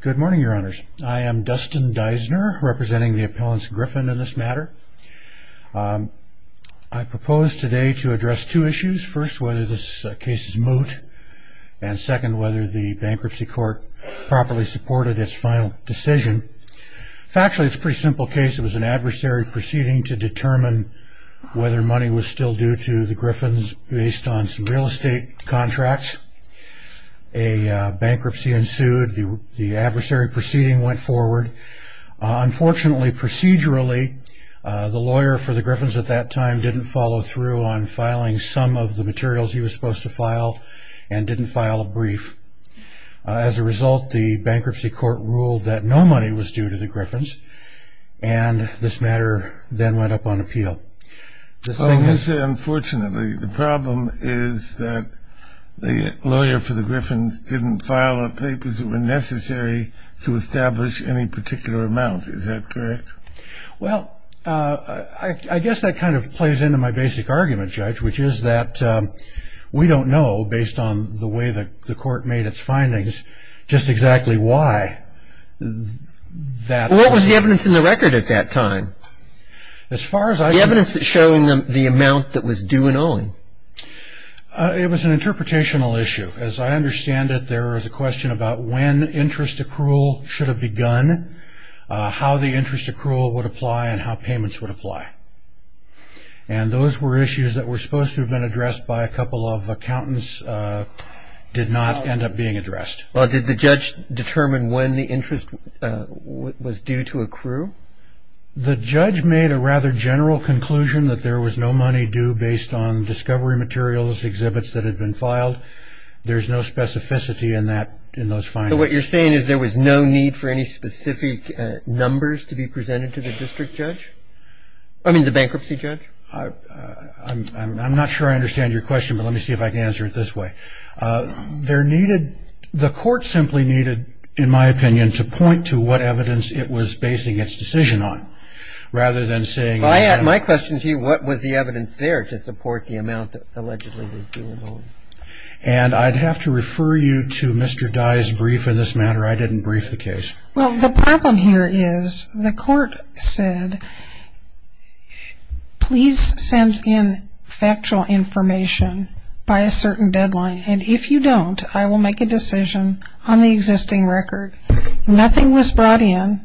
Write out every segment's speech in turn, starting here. Good morning, Your Honors. I am Dustin Deisner, representing the Appellants Griffin in this matter. I propose today to address two issues. First, whether this case is moot. And second, whether the Bankruptcy Court properly supported its final decision. Factually, it's a pretty simple case. It was an adversary proceeding to determine whether money was still due to the Griffins based on some real estate contracts. A bankruptcy ensued, the adversary proceeding went forward. Unfortunately, procedurally, the lawyer for the Griffins at that time didn't follow through on filing some of the materials he was supposed to file and didn't file a brief. As a result, the Bankruptcy Court ruled that no money was due to the Griffins and this matter then went up on appeal. Well, you say unfortunately. The problem is that the lawyer for the Griffins didn't file the papers that were necessary to establish any particular amount. Is that correct? Well, I guess that kind of plays into my basic argument, Judge, which is that we don't know, based on the way the court made its findings, just exactly why. What was the evidence in the record at that time? The evidence showing the amount that was due and owing. It was an interpretational issue. As I understand it, there was a question about when interest accrual should have begun, how the interest accrual would apply, and how payments would apply. And those were issues that were supposed to have been addressed by a couple of accountants, did not end up being addressed. Well, did the judge determine when the interest was due to accrue? The judge made a rather general conclusion that there was no money due based on discovery materials, exhibits that had been filed. There's no specificity in that, in those findings. What you're saying is there was no need for any specific numbers to be presented to the district judge? I mean, the bankruptcy judge? I'm not sure I understand your question, but let me see if I can answer it this way. There needed, the court simply needed, in my opinion, to point to what evidence it was basing its decision on rather than saying. If I had my question to you, what was the evidence there to support the amount that allegedly was due and owing? And I'd have to refer you to Mr. Dye's brief in this matter. I didn't brief the case. Well, the problem here is the court said, please send in factual information by a certain deadline, and if you don't, I will make a decision on the existing record. Nothing was brought in,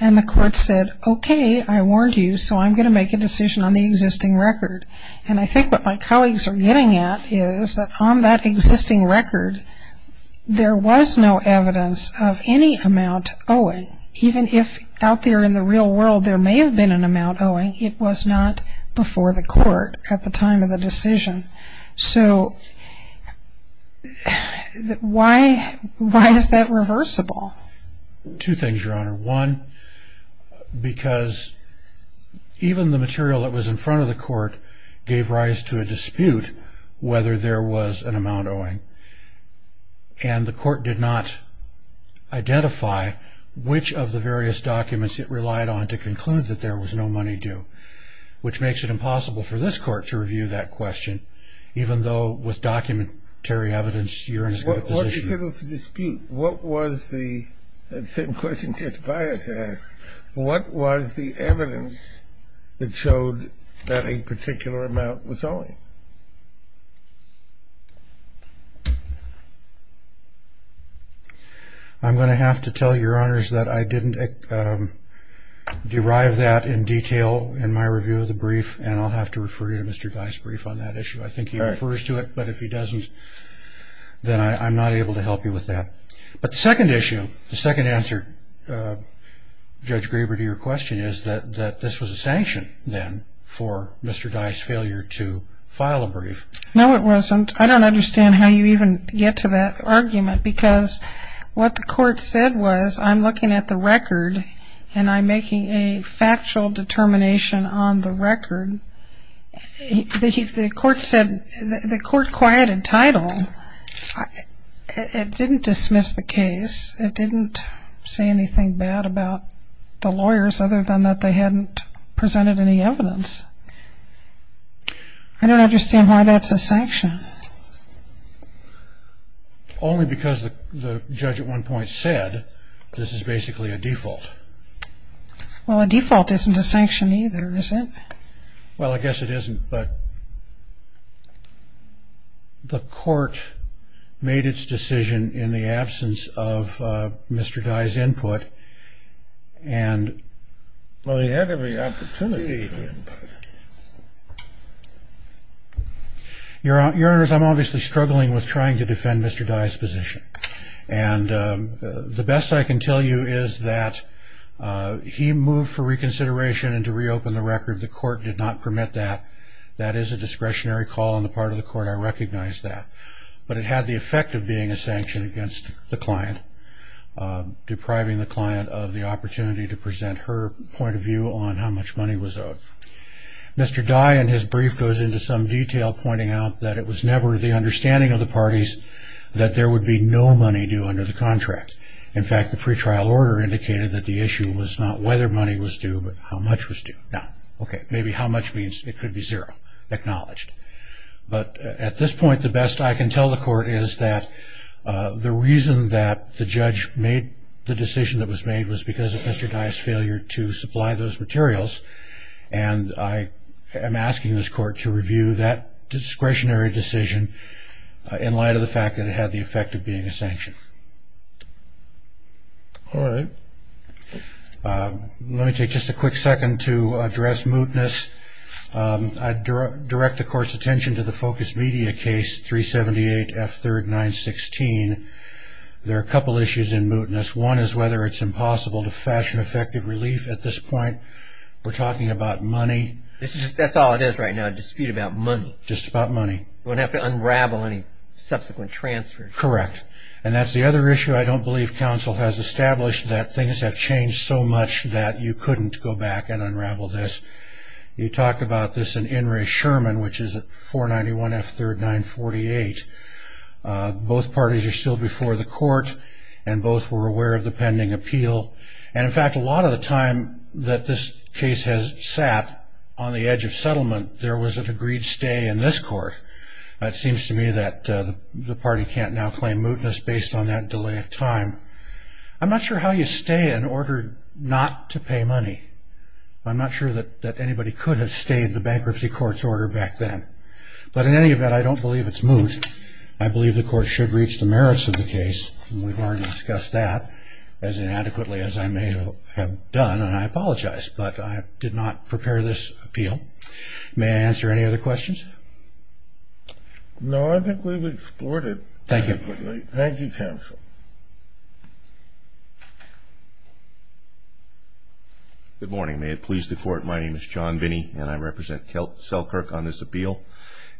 and the court said, okay, I warned you, so I'm going to make a decision on the existing record. And I think what my colleagues are getting at is that on that existing record, there was no evidence of any amount owing, and even if out there in the real world there may have been an amount owing, it was not before the court at the time of the decision. So why is that reversible? Two things, Your Honor. One, because even the material that was in front of the court gave rise to a dispute whether there was an amount owing, and the court did not identify which of the various documents it relied on to conclude that there was no money due, which makes it impossible for this court to review that question, even though with documentary evidence, you're in a good position. What was the dispute? What was the, the same question Judge Byers asked, what was the evidence that showed that a particular amount was owing? I'm going to have to tell Your Honors that I didn't derive that in detail in my review of the brief, and I'll have to refer you to Mr. Dye's brief on that issue. I think he refers to it, but if he doesn't, then I'm not able to help you with that. But the second issue, the second answer, Judge Graber, to your question is that this was a sanction then for Mr. Dye's failure to file a brief. No, it wasn't. I don't understand how you even get to that argument because what the court said was I'm looking at the record and I'm making a factual determination on the record. The court said, the court quieted title. It didn't dismiss the case. It didn't say anything bad about the lawyers other than that they hadn't presented any evidence. I don't understand why that's a sanction. Only because the judge at one point said this is basically a default. Well, a default isn't a sanction either, is it? Well, I guess it isn't, but the court made its decision in the absence of Mr. Dye's input, and well, he had every opportunity. Your Honors, I'm obviously struggling with trying to defend Mr. Dye's position, and the best I can tell you is that he moved for reconsideration and to reopen the record. The court did not permit that. That is a discretionary call on the part of the court. I recognize that, but it had the effect of being a sanction against the client, depriving the client of the opportunity to present her point of view on how much money was owed. Mr. Dye, in his brief, goes into some detail, pointing out that it was never the understanding of the parties that there would be no money due under the contract. In fact, the pretrial order indicated that the issue was not whether money was due, but how much was due. Now, okay, maybe how much means it could be zero, acknowledged. But at this point, the best I can tell the court is that the reason that the judge made the decision that was made was because of Mr. Dye's failure to supply those materials, and I am asking this court to review that discretionary decision in light of the fact that it had the effect of being a sanction. All right. Let me take just a quick second to address mootness. I direct the court's attention to the Focus Media case, 378 F3rd 916. There are a couple issues in mootness. One is whether it's impossible to fashion effective relief at this point. We're talking about money. That's all it is right now, a dispute about money. Just about money. We don't have to unravel any subsequent transfers. Correct. And that's the other issue I don't believe counsel has established, that things have changed so much that you couldn't go back and unravel this. You talked about this in In re Sherman, which is 491 F3rd 948. Both parties are still before the court, and both were aware of the pending appeal. And, in fact, a lot of the time that this case has sat on the edge of settlement, there was an agreed stay in this court. It seems to me that the party can't now claim mootness based on that delay of time. I'm not sure how you stay in order not to pay money. I'm not sure that anybody could have stayed the bankruptcy court's order back then. But, in any event, I don't believe it's moot. I believe the court should reach the merits of the case, and we've already discussed that as inadequately as I may have done, and I apologize, but I did not prepare this appeal. May I answer any other questions? No, I think we've explored it. Thank you. Thank you, counsel. Good morning. May it please the court, my name is John Binney, and I represent Selkirk on this appeal.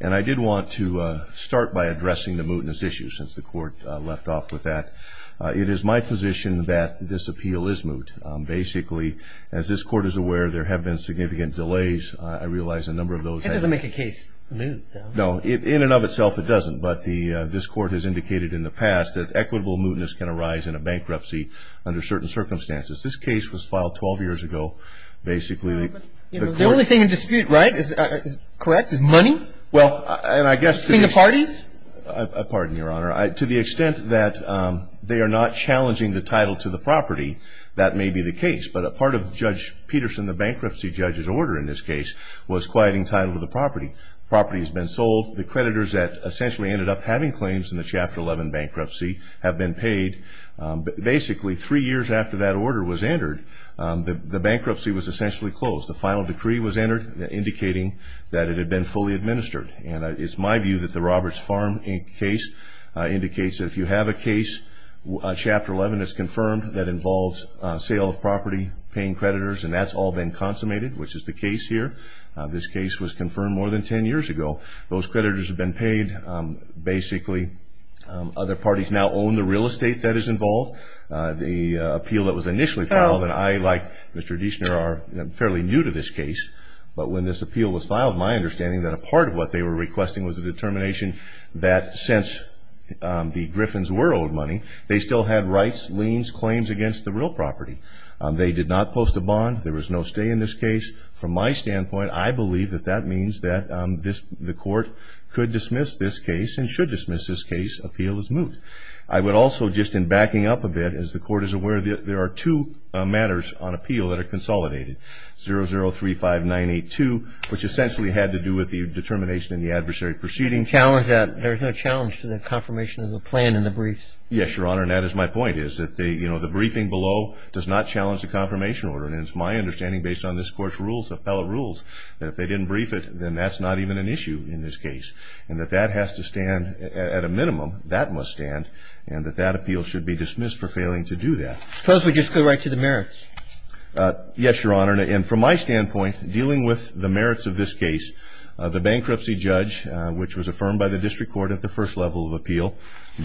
And I did want to start by addressing the mootness issue since the court left off with that. It is my position that this appeal is moot. Basically, as this court is aware, there have been significant delays. I realize a number of those have been. That doesn't make a case moot, though. No, in and of itself it doesn't, but this court has indicated in the past that equitable mootness can arise in a bankruptcy under certain circumstances. This case was filed 12 years ago. The only thing in dispute, right, is money? Between the parties? Pardon me, Your Honor. To the extent that they are not challenging the title to the property, that may be the case. But a part of Judge Peterson, the bankruptcy judge's order in this case, was quieting title to the property. The property has been sold. The creditors that essentially ended up having claims in the Chapter 11 bankruptcy have been paid. Basically, three years after that order was entered, the bankruptcy was essentially closed. The final decree was entered indicating that it had been fully administered. And it's my view that the Roberts Farm case indicates that if you have a case, Chapter 11 is confirmed that involves sale of property, paying creditors, and that's all been consummated, which is the case here. This case was confirmed more than 10 years ago. Those creditors have been paid. Basically, other parties now own the real estate that is involved. The appeal that was initially filed, and I, like Mr. Deichner, are fairly new to this case, but when this appeal was filed, my understanding that a part of what they were requesting was a determination that since the Griffins were owed money, they still had rights, liens, claims against the real property. They did not post a bond. There was no stay in this case. From my standpoint, I believe that that means that the court could dismiss this case and should dismiss this case, appeal is moot. I would also, just in backing up a bit, as the court is aware, there are two matters on appeal that are consolidated, 0035982, which essentially had to do with the determination in the adversary proceeding. There's no challenge to the confirmation of the plan in the briefs. Yes, Your Honor, and that is my point, is that the briefing below does not challenge the confirmation order. And it's my understanding, based on this court's rules, appellate rules, that if they didn't brief it, then that's not even an issue in this case, and that that has to stand at a minimum, that must stand, and that that appeal should be dismissed for failing to do that. Suppose we just go right to the merits. Yes, Your Honor, and from my standpoint, dealing with the merits of this case, the bankruptcy judge, which was affirmed by the district court at the first level of appeal,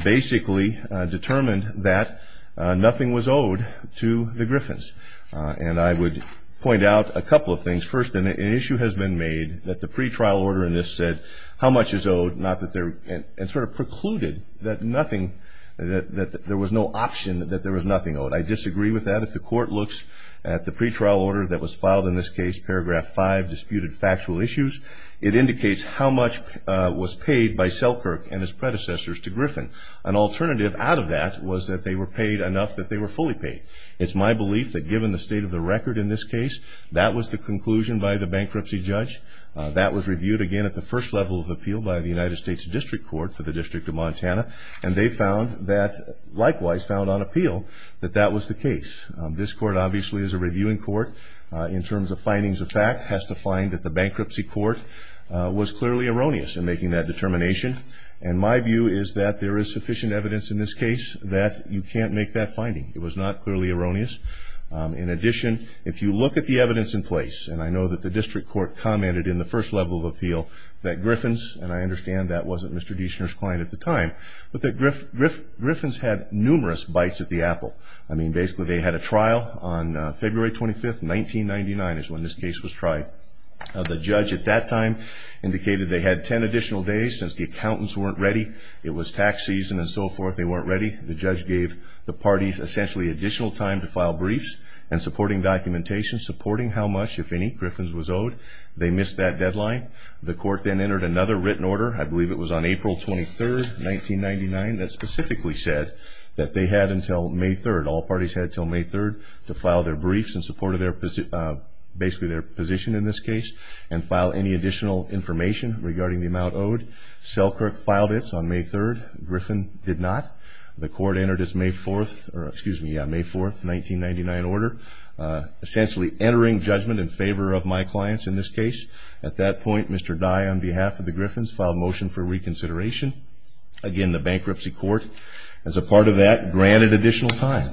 basically determined that nothing was owed to the Griffins. And I would point out a couple of things. First, an issue has been made that the pretrial order in this said how much is owed, and sort of precluded that there was no option that there was nothing owed. I disagree with that. If the court looks at the pretrial order that was filed in this case, paragraph 5, disputed factual issues, it indicates how much was paid by Selkirk and his predecessors to Griffin. An alternative out of that was that they were paid enough that they were fully paid. It's my belief that given the state of the record in this case, that was the conclusion by the bankruptcy judge, that was reviewed again at the first level of appeal by the United States District Court for the District of Montana, and they found that, likewise, found on appeal that that was the case. This court, obviously, as a reviewing court, in terms of findings of fact, has to find that the bankruptcy court was clearly erroneous in making that determination, and my view is that there is sufficient evidence in this case that you can't make that finding. It was not clearly erroneous. In addition, if you look at the evidence in place, and I know that the district court commented in the first level of appeal that Griffin's, and I understand that wasn't Mr. Dishner's client at the time, but that Griffin's had numerous bites at the apple. I mean, basically, they had a trial on February 25, 1999 is when this case was tried. The judge at that time indicated they had 10 additional days. Since the accountants weren't ready, it was tax season and so forth, they weren't ready. The judge gave the parties essentially additional time to file briefs and supporting documentation, supporting how much, if any, Griffin's was owed. They missed that deadline. The court then entered another written order, I believe it was on April 23, 1999, that specifically said that they had until May 3rd, all parties had until May 3rd, to file their briefs in support of basically their position in this case and file any additional information regarding the amount owed. Selkirk filed it on May 3rd. Griffin did not. The court entered its May 4th, or excuse me, yeah, May 4th, 1999 order, essentially entering judgment in favor of my clients in this case. At that point, Mr. Dye, on behalf of the Griffins, filed a motion for reconsideration. Again, the bankruptcy court, as a part of that, granted additional time.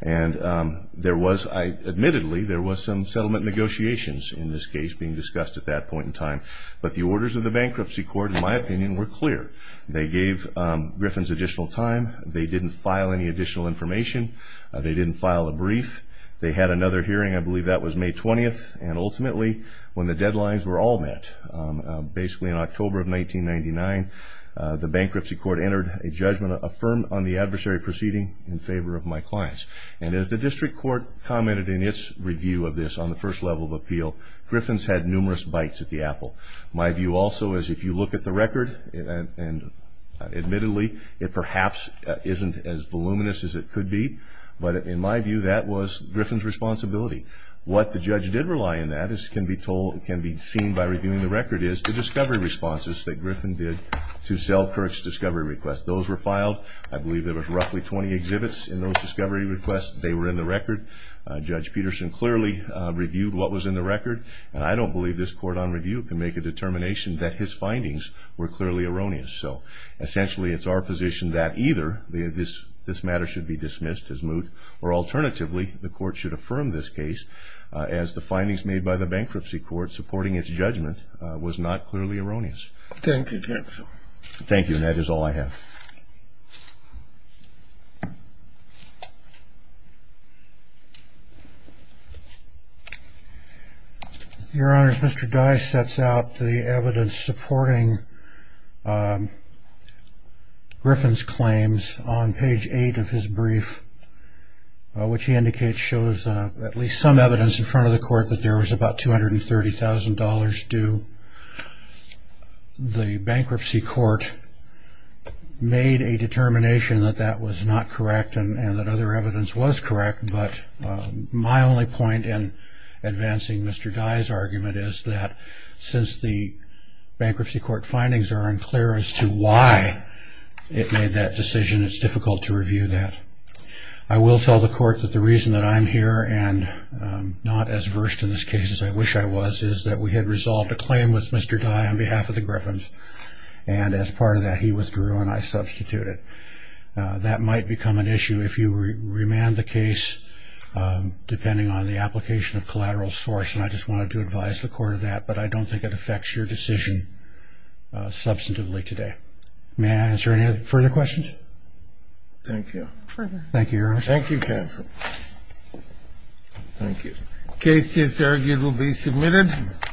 And there was, admittedly, there was some settlement negotiations in this case being discussed at that point in time, but the orders of the bankruptcy court, in my opinion, were clear. They gave Griffins additional time. They didn't file any additional information. They didn't file a brief. They had another hearing, I believe that was May 20th, and ultimately when the deadlines were all met, basically in October of 1999, the bankruptcy court entered a judgment affirmed on the adversary proceeding in favor of my clients. And as the district court commented in its review of this on the first level of appeal, Griffins had numerous bites at the apple. My view also is if you look at the record, and admittedly, it perhaps isn't as voluminous as it could be, but in my view, that was Griffins' responsibility. What the judge did rely on that, as can be seen by reviewing the record, is the discovery responses that Griffins did to sell Kirk's discovery request. Those were filed. I believe there were roughly 20 exhibits in those discovery requests. They were in the record. Judge Peterson clearly reviewed what was in the record, and I don't believe this court on review can make a determination that his findings were clearly erroneous. So essentially it's our position that either this matter should be dismissed as moot, or alternatively the court should affirm this case as the findings made by the bankruptcy court supporting its judgment was not clearly erroneous. Thank you, Judge. Thank you, and that is all I have. Your Honors, Mr. Dice sets out the evidence supporting Griffins' claims on page 8 of his brief, which he indicates shows at least some evidence in front of the court that there was about $230,000 due. The bankruptcy court made a determination that that was not correct and that other evidence was correct, but my only point in advancing Mr. Dice's argument is that since the bankruptcy court findings are unclear as to why it made that decision, it's difficult to review that. I will tell the court that the reason that I'm here and not as versed in this case as I wish I was is that we had resolved a claim with Mr. Dice on behalf of the Griffins, and as part of that he withdrew and I substituted. That might become an issue if you remand the case depending on the application of collateral source, and I just wanted to advise the court of that, but I don't think it affects your decision substantively today. May I answer any further questions? Thank you. Further. Thank you, Your Honors. Thank you, counsel. Thank you. The case is arguably submitted.